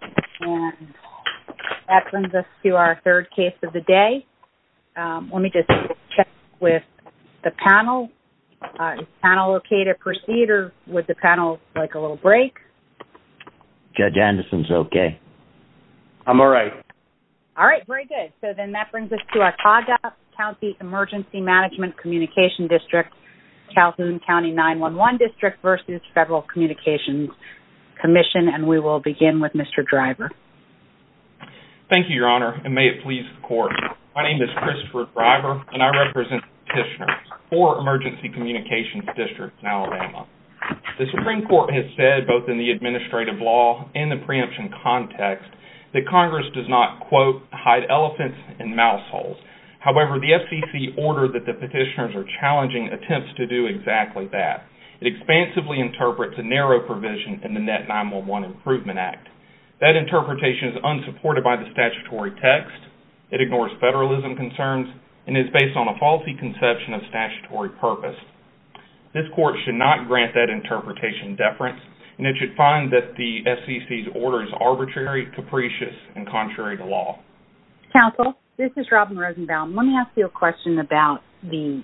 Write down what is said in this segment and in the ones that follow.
And that brings us to our third case of the day. Let me just check with the panel. Is the panel okay to proceed or would the panel like a little break? Judge Anderson's okay. I'm all right. All right, very good. So then that brings us to our Tauga County Emergency Management Communication District, Calhoun County 911 District v. Federal Communications Commission. And we will begin with Mr. Driver. Thank you, Your Honor, and may it please the court. My name is Christopher Driver, and I represent the petitioners for Emergency Communications District in Alabama. The Supreme Court has said, both in the administrative law and the preemption context, that Congress does not, quote, hide elephants in mouse holes. However, the FCC order that the petitioners are challenging attempts to do exactly that. It expansively interprets a 9-1-1 Improvement Act. That interpretation is unsupported by the statutory text, it ignores federalism concerns, and it's based on a faulty conception of statutory purpose. This court should not grant that interpretation deference, and it should find that the FCC's order is arbitrary, capricious, and contrary to law. Counsel, this is Robin Rosenbaum. Let me ask you a question about the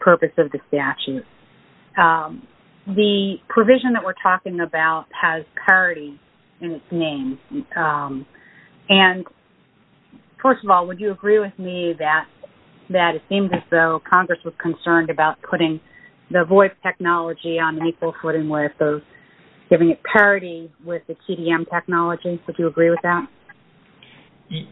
purpose of the statute. Um, the provision that we're talking about has parity in its name. Um, and first of all, would you agree with me that, that it seems as though Congress was concerned about putting the VOIP technology on an equal footing with those giving it parity with the TDM technology? Would you agree with that?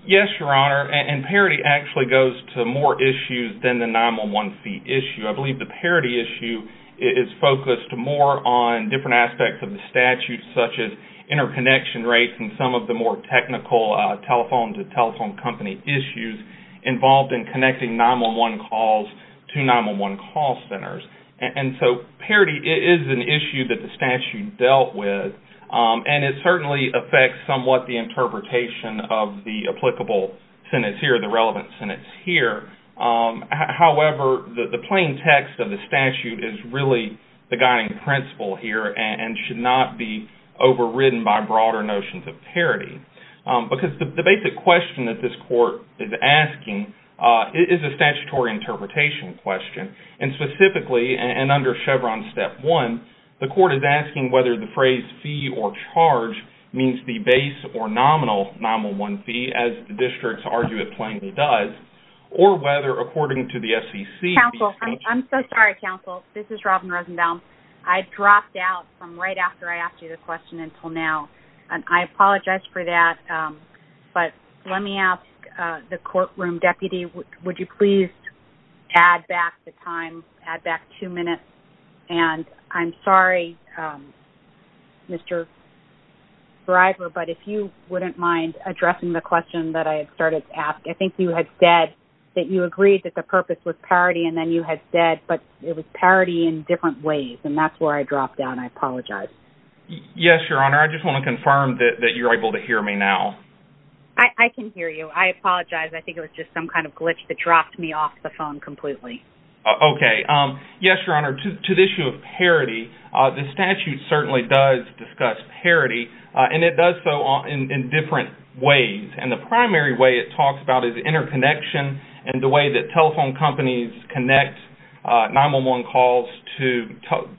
Yes, Your Honor, and parity actually goes to more issues than the 9-1-1 issue. I believe the parity issue is focused more on different aspects of the statute, such as interconnection rates and some of the more technical telephone-to-telephone company issues involved in connecting 9-1-1 calls to 9-1-1 call centers. And so parity is an issue that the statute dealt with, and it certainly affects somewhat the interpretation of the applicable sentence here, the relevant sentence here. However, the plain text of the statute is really the guiding principle here and should not be overridden by broader notions of parity. Because the basic question that this court is asking is a statutory interpretation question, and specifically, and under Chevron Step 1, the court is asking whether the phrase fee or charge means the base or nominal 9-1-1 fee, as the districts argue it plainly does, or whether, according to the SEC... Counsel, I'm so sorry, counsel. This is Robin Rosenbaum. I dropped out from right after I asked you the question until now, and I apologize for that. But let me ask the courtroom deputy, would you please add back the time, add back two minutes? And I'm sorry, Mr. Driver, but if you wouldn't mind addressing the question that I started to ask. I think you had said that you agreed that the purpose was parity, and then you had said, but it was parity in different ways, and that's where I dropped out, and I apologize. Yes, Your Honor. I just want to confirm that you're able to hear me now. I can hear you. I apologize. I think it was just some kind of glitch that dropped me off the phone completely. Okay. Yes, Your Honor. To the issue of parity, the statute certainly does discuss parity, and it does so in different ways. And the primary way it talks about is interconnection and the way that telephone companies connect 9-1-1 calls to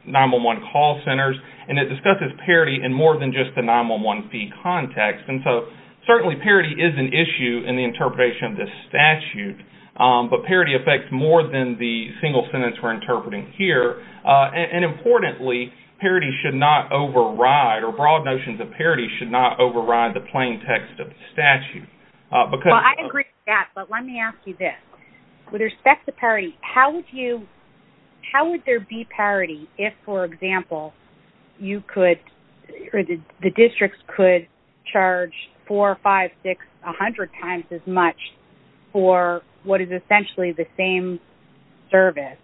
9-1-1 call centers, and it discusses parity in more than just the 9-1-1 fee context. And so, certainly, parity is an issue in the interpretation of this statute, but parity affects more than the single sentence we're interpreting here. And importantly, parity should not override, or broad notions of parity should not override the plain text of the statute. I agree with that, but let me ask you this. With respect to parity, how would there be parity if, for example, the districts could charge 4, 5, 6, 100 times as much for what is essentially the same service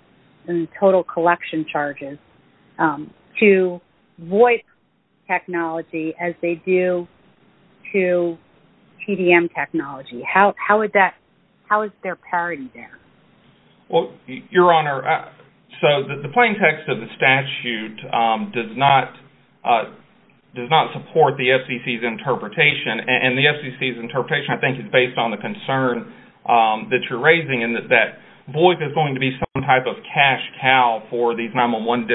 in total collection charges to voice technology as they do to TDM technology? How is there parity there? Well, Your Honor, so the plain text of the statute does not support the FCC's interpretation, and the FCC's interpretation, I think, is based on the concern that you're raising in that voice is going to be some type of cash cow for these 9-1-1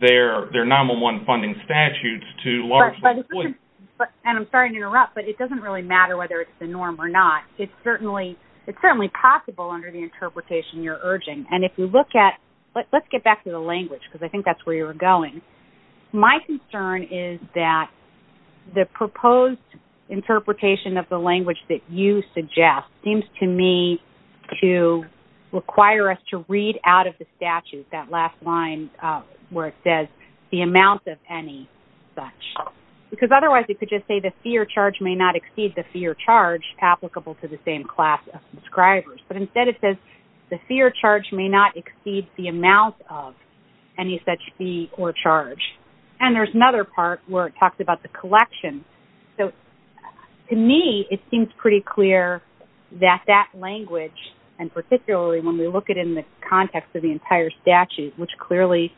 their 9-1-1 funding statutes to largely voice. And I'm sorry to interrupt, but it doesn't really matter whether it's the norm or not. It's certainly possible under the interpretation you're urging. And if you look at—let's get back to the language, because I think that's where you were going. My concern is that the proposed interpretation of the language that you suggest seems to me to require us to read out of the statute that last line where it says the amount of any such. Because otherwise you could just say the fee or charge may not exceed the fee or charge applicable to the same class of subscribers. But instead it says the fee or charge may not exceed the amount of any such fee or charge. And there's another part where it talks about the collection. So to me it seems pretty clear that that language, and particularly when we look at it in the context of the entire statute, which clearly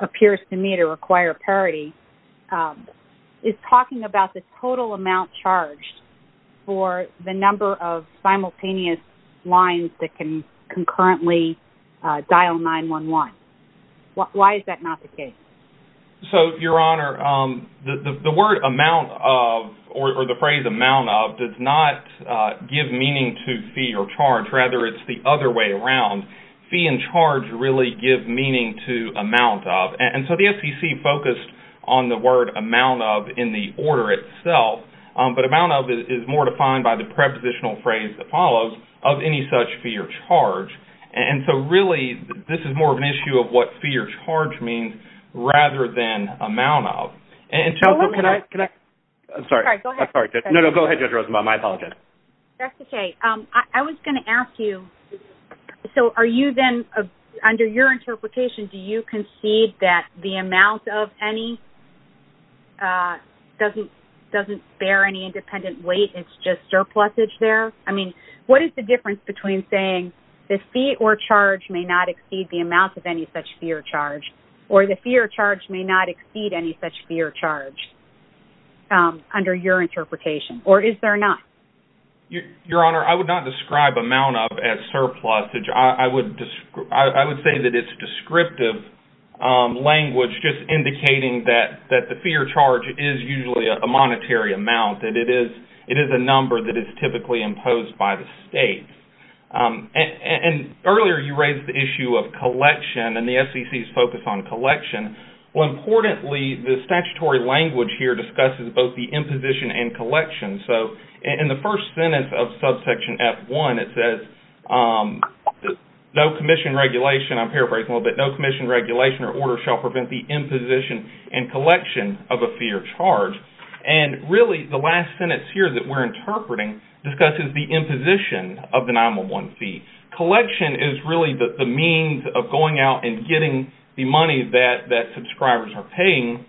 appears to me to require parity, is talking about the total amount charged for the number of simultaneous lines that can The word amount of or the phrase amount of does not give meaning to fee or charge. Rather it's the other way around. Fee and charge really give meaning to amount of. And so the FCC focused on the word amount of in the order itself. But amount of is more defined by the prepositional phrase that follows, of any such fee or charge. And so really this is more of an issue of what charge means rather than amount of. And so can I? I'm sorry. No, no. Go ahead, Judge Rosenbaum. I apologize. That's okay. I was going to ask you, so are you then, under your interpretation, do you concede that the amount of any doesn't bear any independent weight? It's just surplusage there? I mean, what is the difference between saying the fee or charge may not exceed the or the fee or charge may not exceed any such fee or charge, under your interpretation? Or is there not? Your Honor, I would not describe amount of as surplusage. I would say that it's descriptive language just indicating that the fee or charge is usually a monetary amount. That it is a number that is typically imposed by the state. And earlier you raised the issue of collection and the SEC's focus on collection. Well, importantly, the statutory language here discusses both the imposition and collection. So in the first sentence of subsection F1, it says, no commission regulation, I'm paraphrasing a little bit, no commission regulation or order shall prevent the imposition and collection of a fee or charge. And really the last sentence here that we're interpreting discusses the imposition of the 9-1-1 fee. Collection is really the means of going out and getting the money that subscribers are paying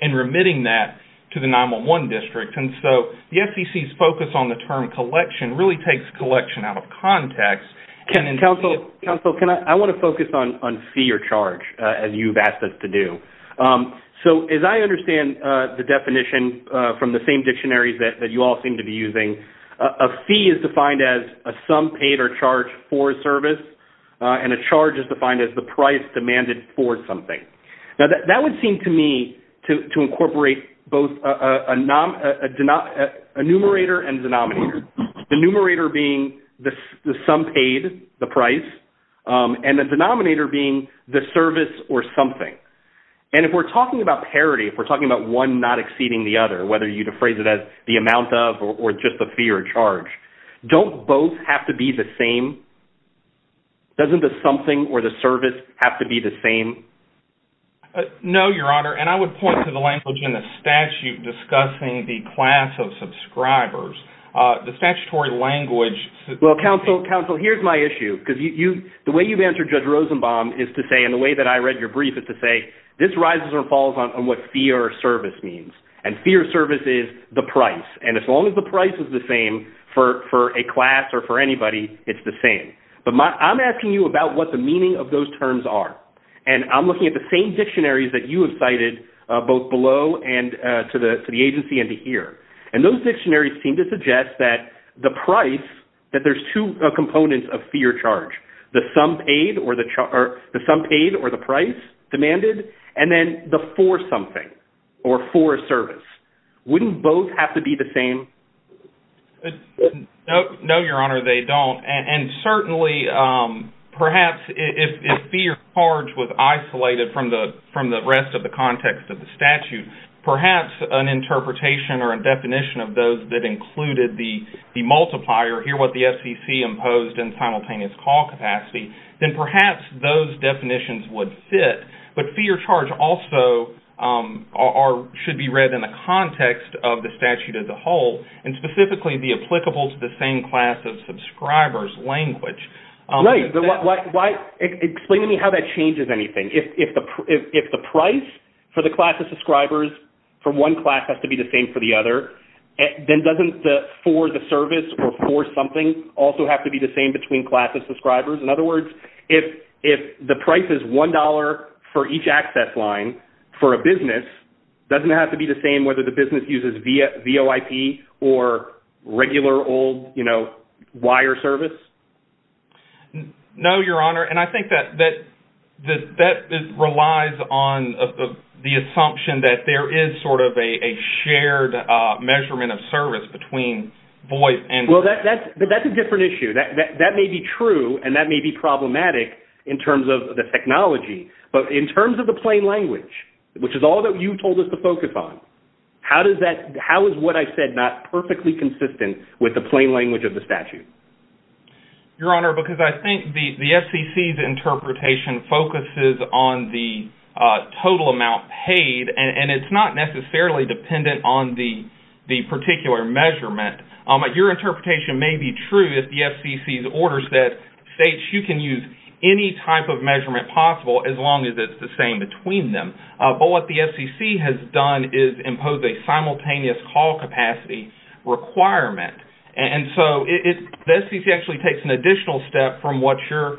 and remitting that to the 9-1-1 district. And so the SEC's focus on the term collection really takes collection out of context. Counsel, I want to focus on fee or charge as you've asked us to do. So as I understand the definition from the same dictionaries that you all seem to be using, a fee is defined as a sum paid or charged for a service and a charge is defined as the price demanded for something. Now that would seem to me to incorporate both a numerator and denominator. The numerator being the sum paid, the price, and the denominator being the service or something. And if we're talking about parity, if we're talking about one not exceeding the other, whether you'd phrase it as the amount of or just the fee or charge, don't both have to be the same? Doesn't the something or the service have to be the same? No, Your Honor. And I would point to the language in the statute discussing the class of subscribers. The statutory language... Well, Counsel, here's my issue. Because the way you've answered Judge Rosenbaum is to say, and the way that I read your brief is to say, this rises or falls on what fee or service means. And fee or service is the price. And as long as the price is the same for a class or for anybody, it's the same. But I'm asking you about what the meaning of those terms are. And I'm looking at the same dictionaries that you have cited both below and to the agency and to here. And those dictionaries seem to suggest that the price, that there's two components of fee or service. Wouldn't both have to be the same? No, Your Honor, they don't. And certainly, perhaps if fee or charge was isolated from the rest of the context of the statute, perhaps an interpretation or a definition of those that included the multiplier, here what the SEC imposed in simultaneous call capacity, then perhaps those in the context of the statute as a whole, and specifically the applicable to the same class of subscribers language... Right. Explain to me how that changes anything. If the price for the class of subscribers for one class has to be the same for the other, then doesn't the for the service or for something also have to be the same between classes of subscribers? In other words, if the price is $1 for each access line for a business, doesn't it have to be the same whether the business uses VOIP or regular old, you know, wire service? No, Your Honor. And I think that that relies on the assumption that there is sort of a shared measurement of service between voice and... Well, that's a different issue. That may be true and that may be problematic in terms of the technology. But in terms of the plain language, which is all that you told us to focus on, how is what I said not perfectly consistent with the plain language of the statute? Your Honor, because I think the FCC's interpretation focuses on the total amount paid and it's not necessarily dependent on the particular measurement. Your interpretation may be true if the FCC's orders that states you can use any type of but what the FCC has done is impose a simultaneous call capacity requirement. And so the FCC actually takes an additional step from what you're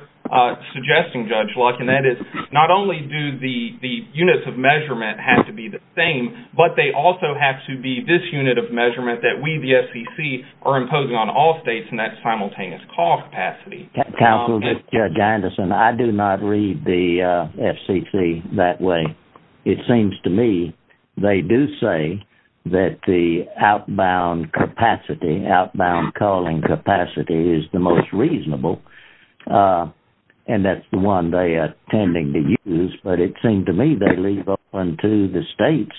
suggesting, Judge Luck, and that is not only do the units of measurement have to be the same, but they also have to be this unit of measurement that we, the FCC, are imposing on all states in that simultaneous call capacity. Counsel, this is Judge Anderson. I do not read the FCC that way. It seems to me they do say that the outbound capacity, outbound calling capacity, is the most reasonable. And that's the one they are tending to use. But it seemed to me they leave open to the states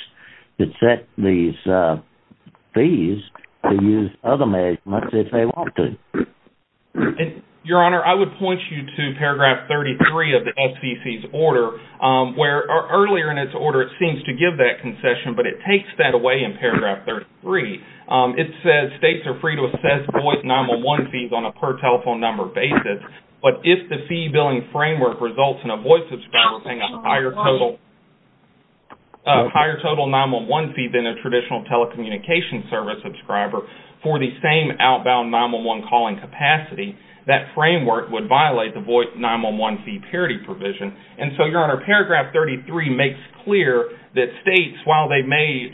that set these fees to use other measurements if they want to. And, Your Honor, I would point you to paragraph 33 of the FCC's order where earlier in its order it seems to give that concession, but it takes that away in paragraph 33. It says states are free to assess voice 9-1-1 fees on a per telephone number basis, but if the fee billing framework results in a voice subscriber paying a higher total 9-1-1 fee than a traditional telecommunication service subscriber for the same outbound 9-1-1 calling capacity, that framework would violate the voice 9-1-1 fee parity provision. And so, Your Honor, paragraph 33 makes clear that states, while they may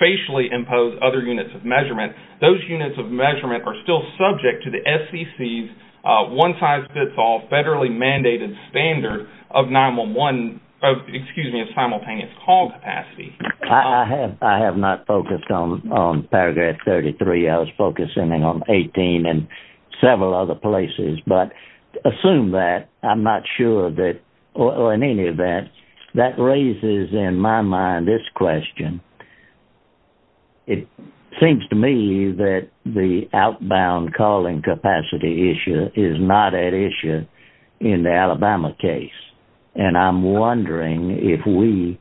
facially impose other units of measurement, those units of measurement are still subject to the FCC's one-size-fits-all federally mandated standard of 9-1-1, excuse me, of on paragraph 33. I was focusing on 18 and several other places, but assume that, I'm not sure that, or in any event, that raises in my mind this question. It seems to me that the outbound calling capacity issue is not at issue in the Alabama case, and I'm wondering if we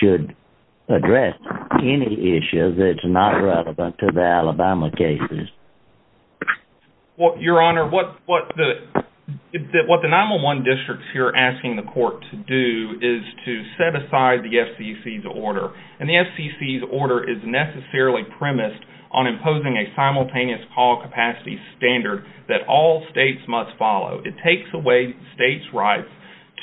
should address any issue that's not relevant to the Alabama cases. Your Honor, what the 9-1-1 districts here are asking the court to do is to set aside the FCC's order, and the FCC's order is necessarily premised on imposing a simultaneous call states' rights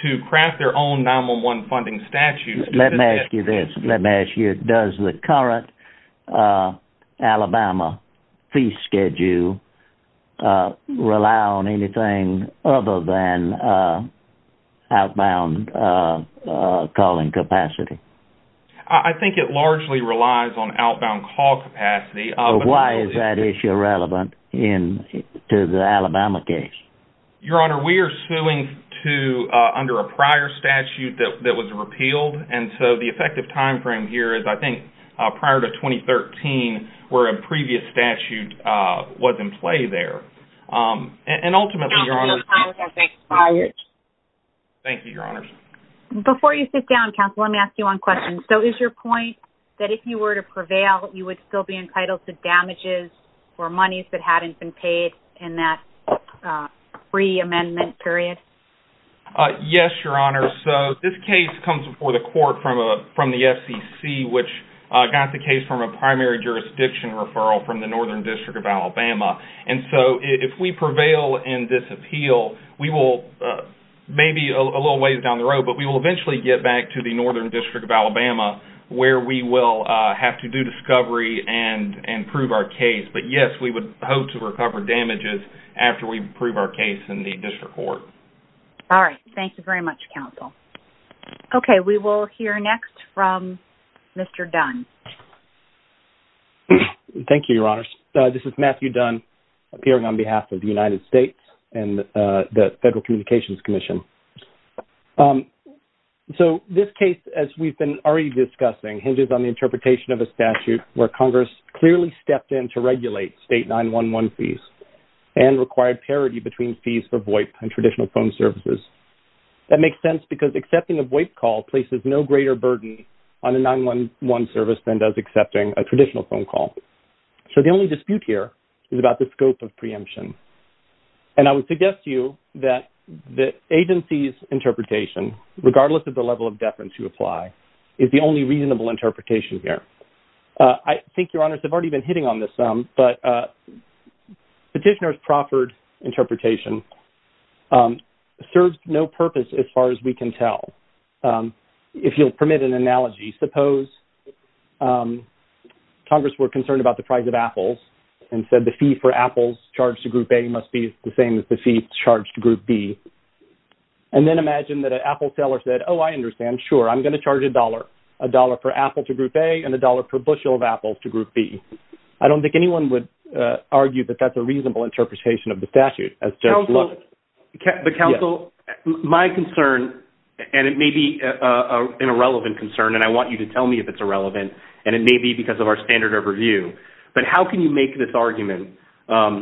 to craft their own 9-1-1 funding statutes. Let me ask you this. Let me ask you, does the current Alabama fee schedule rely on anything other than outbound calling capacity? I think it largely relies on outbound call capacity. Why is that issue relevant to the Alabama case? Your Honor, we are suing under a prior statute that was repealed, and so the effective timeframe here is, I think, prior to 2013, where a previous statute was in play there. Thank you, Your Honors. Before you sit down, counsel, let me ask you one question. So is your point that if you were to prevail, you would still be entitled to damages or monies that hadn't been paid in that pre-amendment period? Yes, Your Honor. So this case comes before the court from the FCC, which got the case from a primary jurisdiction referral from the Northern District of Alabama. And so if we prevail and disappeal, we will maybe a little ways down the road, but we will eventually get back to the Yes, we would hope to recover damages after we prove our case in the district court. All right. Thank you very much, counsel. Okay. We will hear next from Mr. Dunn. Thank you, Your Honors. This is Matthew Dunn, appearing on behalf of the United States and the Federal Communications Commission. So this case, as we've been already discussing, hinges on the interpretation of a statute where clearly stepped in to regulate state 911 fees and required parity between fees for VoIP and traditional phone services. That makes sense because accepting a VoIP call places no greater burden on a 911 service than does accepting a traditional phone call. So the only dispute here is about the scope of preemption. And I would suggest to you that the agency's interpretation, regardless of the level of deference you apply, is the only reasonable interpretation here. I think, Your Honors, I've already been hitting on this some, but petitioner's proffered interpretation serves no purpose as far as we can tell. If you'll permit an analogy, suppose Congress were concerned about the price of apples and said the fee for apples charged to Group A must be the same as the fee charged to Group B. And then imagine that an apple seller said, oh, I understand, sure, I'm going to charge a dollar, a dollar for apple to Group A and a dollar per bushel of apples to Group B. I don't think anyone would argue that that's a reasonable interpretation of the statute. But counsel, my concern, and it may be an irrelevant concern, and I want you to tell me if it's irrelevant, and it may be because of our standard overview, but how can you make this argument,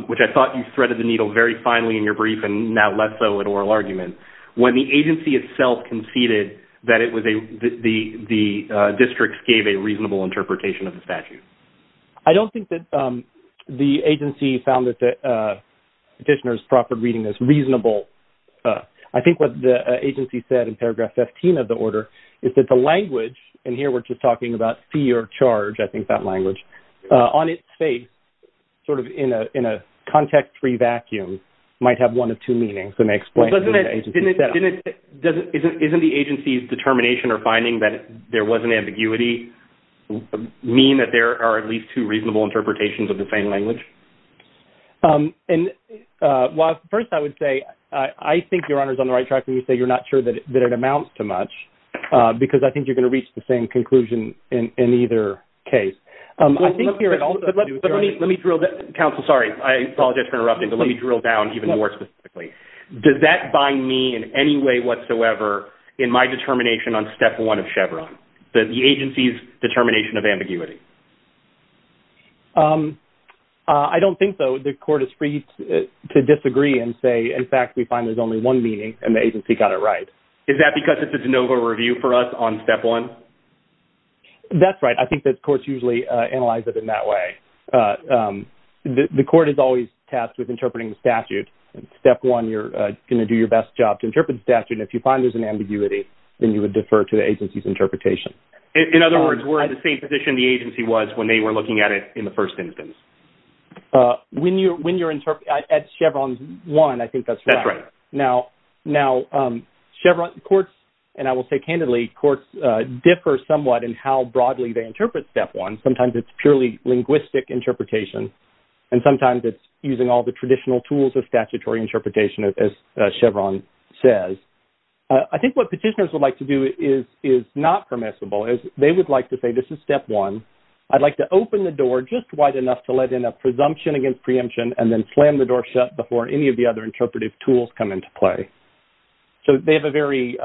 which I thought you threaded the needle very finely in your brief and now less so in oral argument, when the agency itself conceded that it was a, the districts gave a reasonable interpretation of the statute? I don't think that the agency found that the petitioner's proffered reading is reasonable. I think what the agency said in paragraph 15 of the order is that the language, and here we're just talking about fee or charge, I think that language, on its face sort of in a context-free vacuum might have one of two meanings. Doesn't it, isn't the agency's determination or finding that there wasn't ambiguity mean that there are at least two reasonable interpretations of the same language? And while first I would say, I think Your Honor is on the right track when you say you're not sure that it amounts to much, because I think you're going to reach the same conclusion in either case. I think here it also- But let me drill down, counsel, sorry, I apologize for interrupting, but let me drill down even more specifically. Does that bind me in any way whatsoever in my determination on step one of Chevron, that the agency's determination of ambiguity? I don't think so. The court is free to disagree and say, in fact, we find there's only one meaning and the agency got it right. Is that because it's a de novo review for us on step one? That's right. I think that courts usually analyze it in that way. The court is always tasked with interpreting the statute. In step one, you're going to do your best job to interpret the statute. And if you find there's an ambiguity, then you would defer to the agency's interpretation. In other words, we're in the same position the agency was when they were looking at it in the first instance. When you're at Chevron one, I think that's right. That's right. Now, Chevron courts, and I will say somewhat in how broadly they interpret step one, sometimes it's purely linguistic interpretation. And sometimes it's using all the traditional tools of statutory interpretation, as Chevron says. I think what petitioners would like to do is not permissible. They would like to say, this is step one. I'd like to open the door just wide enough to let in a presumption against preemption and then slam the door shut before any of the other interpretive tools come into play. So they have a very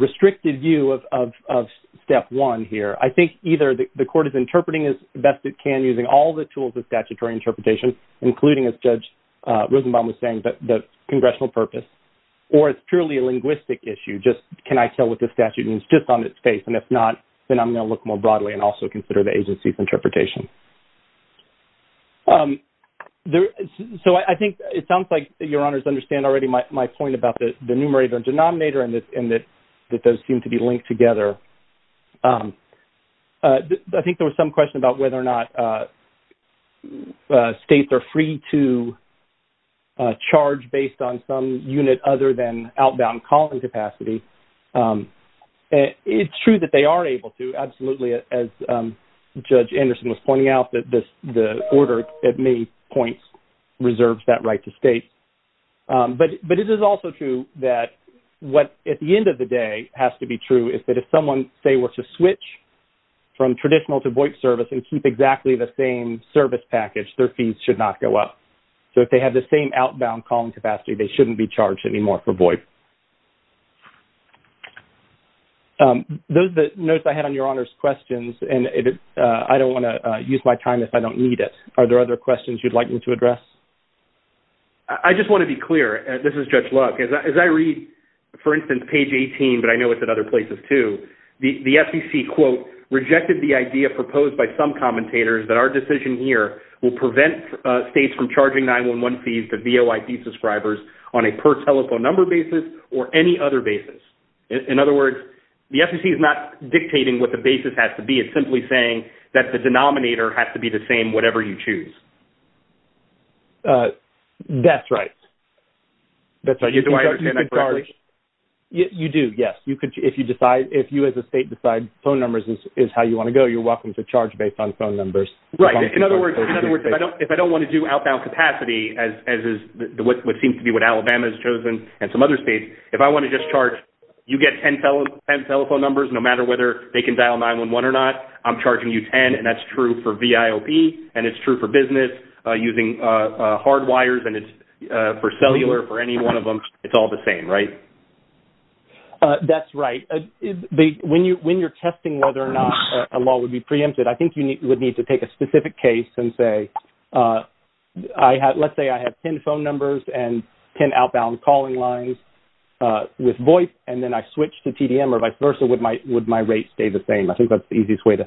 restricted view of step one here. I think either the court is interpreting as best it can using all the tools of statutory interpretation, including, as Judge Rosenbaum was saying, the congressional purpose, or it's purely a linguistic issue. Just can I tell what the statute means just on its face? And if not, then I'm going to look more broadly and also consider the agency's interpretation. So I think it sounds like your honors understand already my point about the numerator and denominator and that those seem to be linked together. I think there was some question about whether or not states are free to charge based on some unit other than outbound calling capacity. It's true that they are able to, absolutely, as Judge Anderson was pointing out, that the order, at many points, reserves that right to state. But it is also true that what at the end of the day has to be true is that if someone, say, were to switch from traditional to VOIP service and keep exactly the same service package, their fees should not go up. So if they have the same outbound calling capacity, they shouldn't be charged anymore for VOIP. Those are the notes I had on your honors' questions, and I don't want to use my time if I don't need it. Are there other questions you'd like me to address? I just want to be clear, and this is Judge Luck, as I read, for instance, page 18, but I know it's at other places too, the FEC, quote, rejected the idea proposed by some commentators that our decision here will prevent states from charging 911 fees to VOIP subscribers on a per telephone number basis or any other basis. In other words, the FEC is not dictating what the basis has to be. It's simply saying that the denominator has to be the same whatever you choose. That's right. That's right. Do I understand that correctly? You do, yes. If you as a state decide phone numbers is how you want to go, you're welcome to charge based on phone numbers. Right. In other words, if I don't want to do outbound capacity, as is what seems to be what telephone numbers, no matter whether they can dial 911 or not, I'm charging you 10, and that's true for VIOP, and it's true for business using hardwires and it's for cellular for any one of them. It's all the same, right? That's right. When you're testing whether or not a law would be preempted, I think you would need to take a specific case and say, let's say I have 10 phone numbers and 10 outbound calling lines with VOIP, and then I switch to TDM or vice versa, would my rate stay the same? I think that's the easiest way to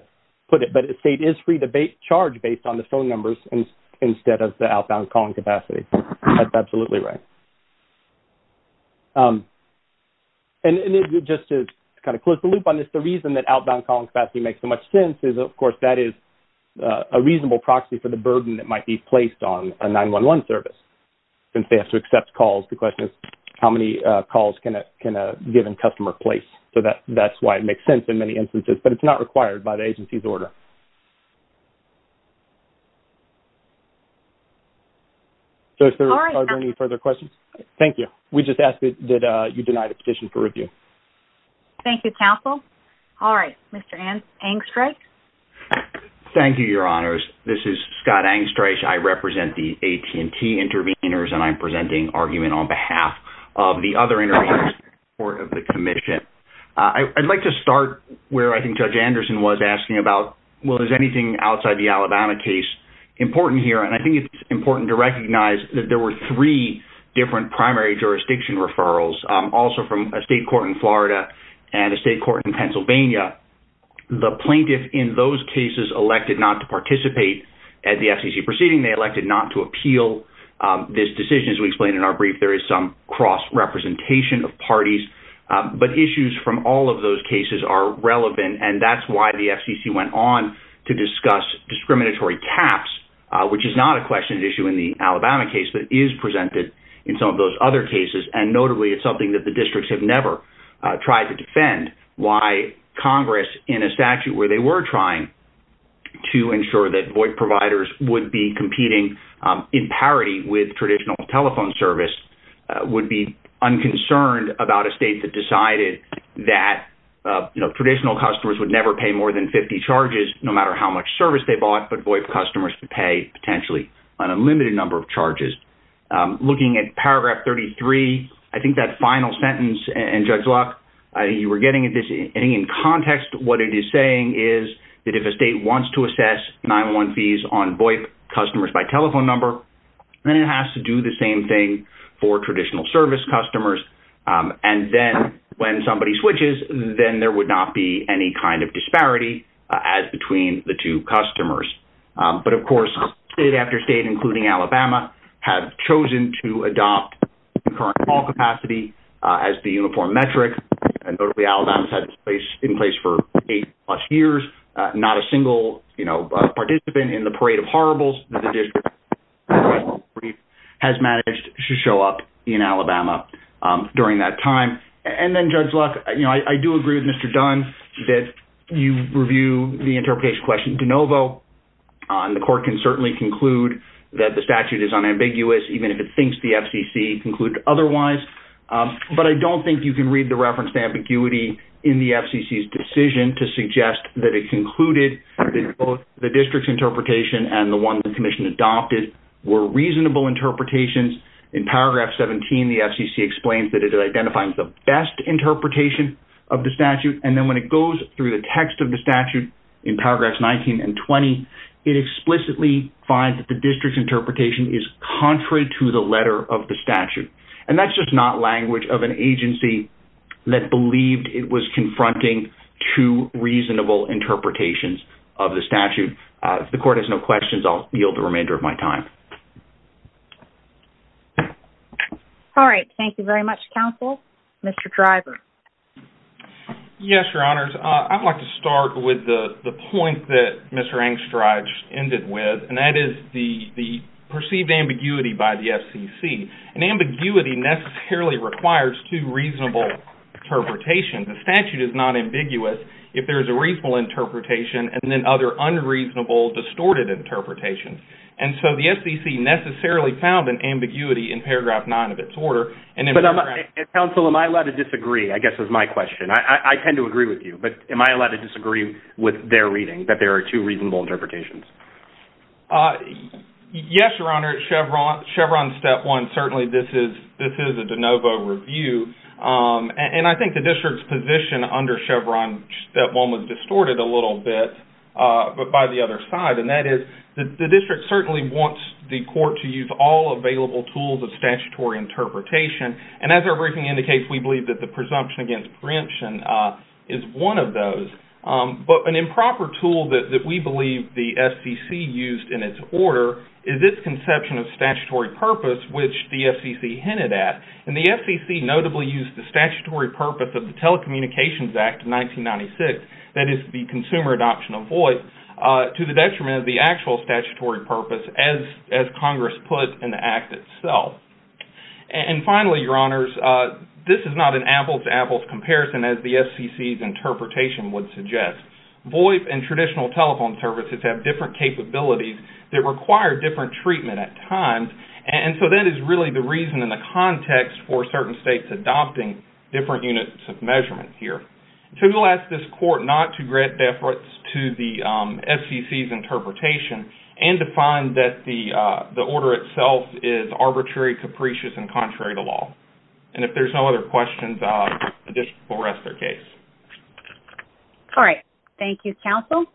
put it. But a state is free to charge based on the phone numbers instead of the outbound calling capacity. That's absolutely right. And just to kind of close the loop on this, the reason that outbound calling capacity makes so much sense is, of course, that is a reasonable proxy for the burden that might be placed on a 911 service since they have to accept calls. The question is, how many calls can a given customer place? So that's why it makes sense in many instances, but it's not required by the agency's order. So are there any further questions? Thank you. We just asked that you deny the petition for review. Thank you, counsel. All right. Mr. Angstreich. Thank you, Your Honors. This is Scott Angstreich. I represent the AT&T intervenors, and I'm presenting argument on behalf of the other intervenors in support of the commission. I'd like to start where I think Judge Anderson was asking about, well, is anything outside the Alabama case important here? And I think it's important to recognize that there were three different primary jurisdiction referrals, also from a state court in Florida and a state court in Pennsylvania. The plaintiff in those cases elected not to participate at the FCC proceeding. They elected not to appeal this decision. As we explained in our brief, there is some cross-representation of parties. But issues from all of those cases are relevant, and that's why the FCC went on to discuss discriminatory caps, which is not a question issue in the Alabama case, but is presented in some of those other cases. And notably, it's something that the Congress, in a statute where they were trying to ensure that VoIP providers would be competing in parity with traditional telephone service, would be unconcerned about a state that decided that traditional customers would never pay more than 50 charges, no matter how much service they bought, but VoIP customers could pay potentially an unlimited number of charges. Looking at paragraph 33, I think that final sentence in Judge Locke, you were getting it in context, what it is saying is that if a state wants to assess 9-1-1 fees on VoIP customers by telephone number, then it has to do the same thing for traditional service customers. And then when somebody switches, then there would not be any kind of disparity as between the two customers. But of course, state after state, including Alabama, have chosen to adopt concurrent call capacity as the uniform metric. And notably, Alabama's had this in place for eight plus years. Not a single participant in the parade of horribles that the district has managed to show up in Alabama during that time. And then Judge Locke, I do agree with Mr. Dunn that you review the interpretation question de court can certainly conclude that the statute is unambiguous, even if it thinks the FCC concluded otherwise. But I don't think you can read the reference to ambiguity in the FCC's decision to suggest that it concluded that both the district's interpretation and the one the commission adopted were reasonable interpretations. In paragraph 17, the FCC explains that it identifies the best interpretation of the statute. And then when it goes through the text of the statute, it explicitly finds that the district's interpretation is contrary to the letter of the statute. And that's just not language of an agency that believed it was confronting two reasonable interpretations of the statute. If the court has no questions, I'll yield the remainder of my time. All right. Thank you very much, counsel. Mr. Driver. Yes, your honors. I'd like to start with the point that Mr. Engstrache ended with, and that is the perceived ambiguity by the FCC. And ambiguity necessarily requires two reasonable interpretations. The statute is not ambiguous if there's a reasonable interpretation and then other unreasonable, distorted interpretations. And so the FCC necessarily found an ambiguity in paragraph 9 of its order. But counsel, am I allowed to disagree, I guess, is my question. I tend to agree with you. But am I allowed to disagree with their reading, that there are two reasonable interpretations? Yes, your honor. Chevron step one, certainly this is a de novo review. And I think the district's position under Chevron step one was distorted a little bit, but by the other side. And that is, the district certainly wants the court to use all available tools of statutory interpretation. And as our briefing indicates, we believe that the presumption against preemption is one of those. But an improper tool that we believe the FCC used in its order is its conception of statutory purpose, which the FCC hinted at. And the FCC notably used the statutory purpose of the Telecommunications Act of 1996, that is, the consumer adoption of voice, to the detriment of the actual statutory purpose as Congress put in the Act itself. And finally, your honors, this is not an apples-to-apples comparison, as the FCC's interpretation would suggest. VoIP and traditional telephone services have different capabilities that require different treatment at times. And so that is really the reason and the context for certain states adopting different units of measurement here. So we'll ask this court not to grant deference to the FCC's interpretation and to find that the order itself is arbitrary, capricious, and contrary to law. And if there's no other questions, the district will rest their case. All right. Thank you, counsel.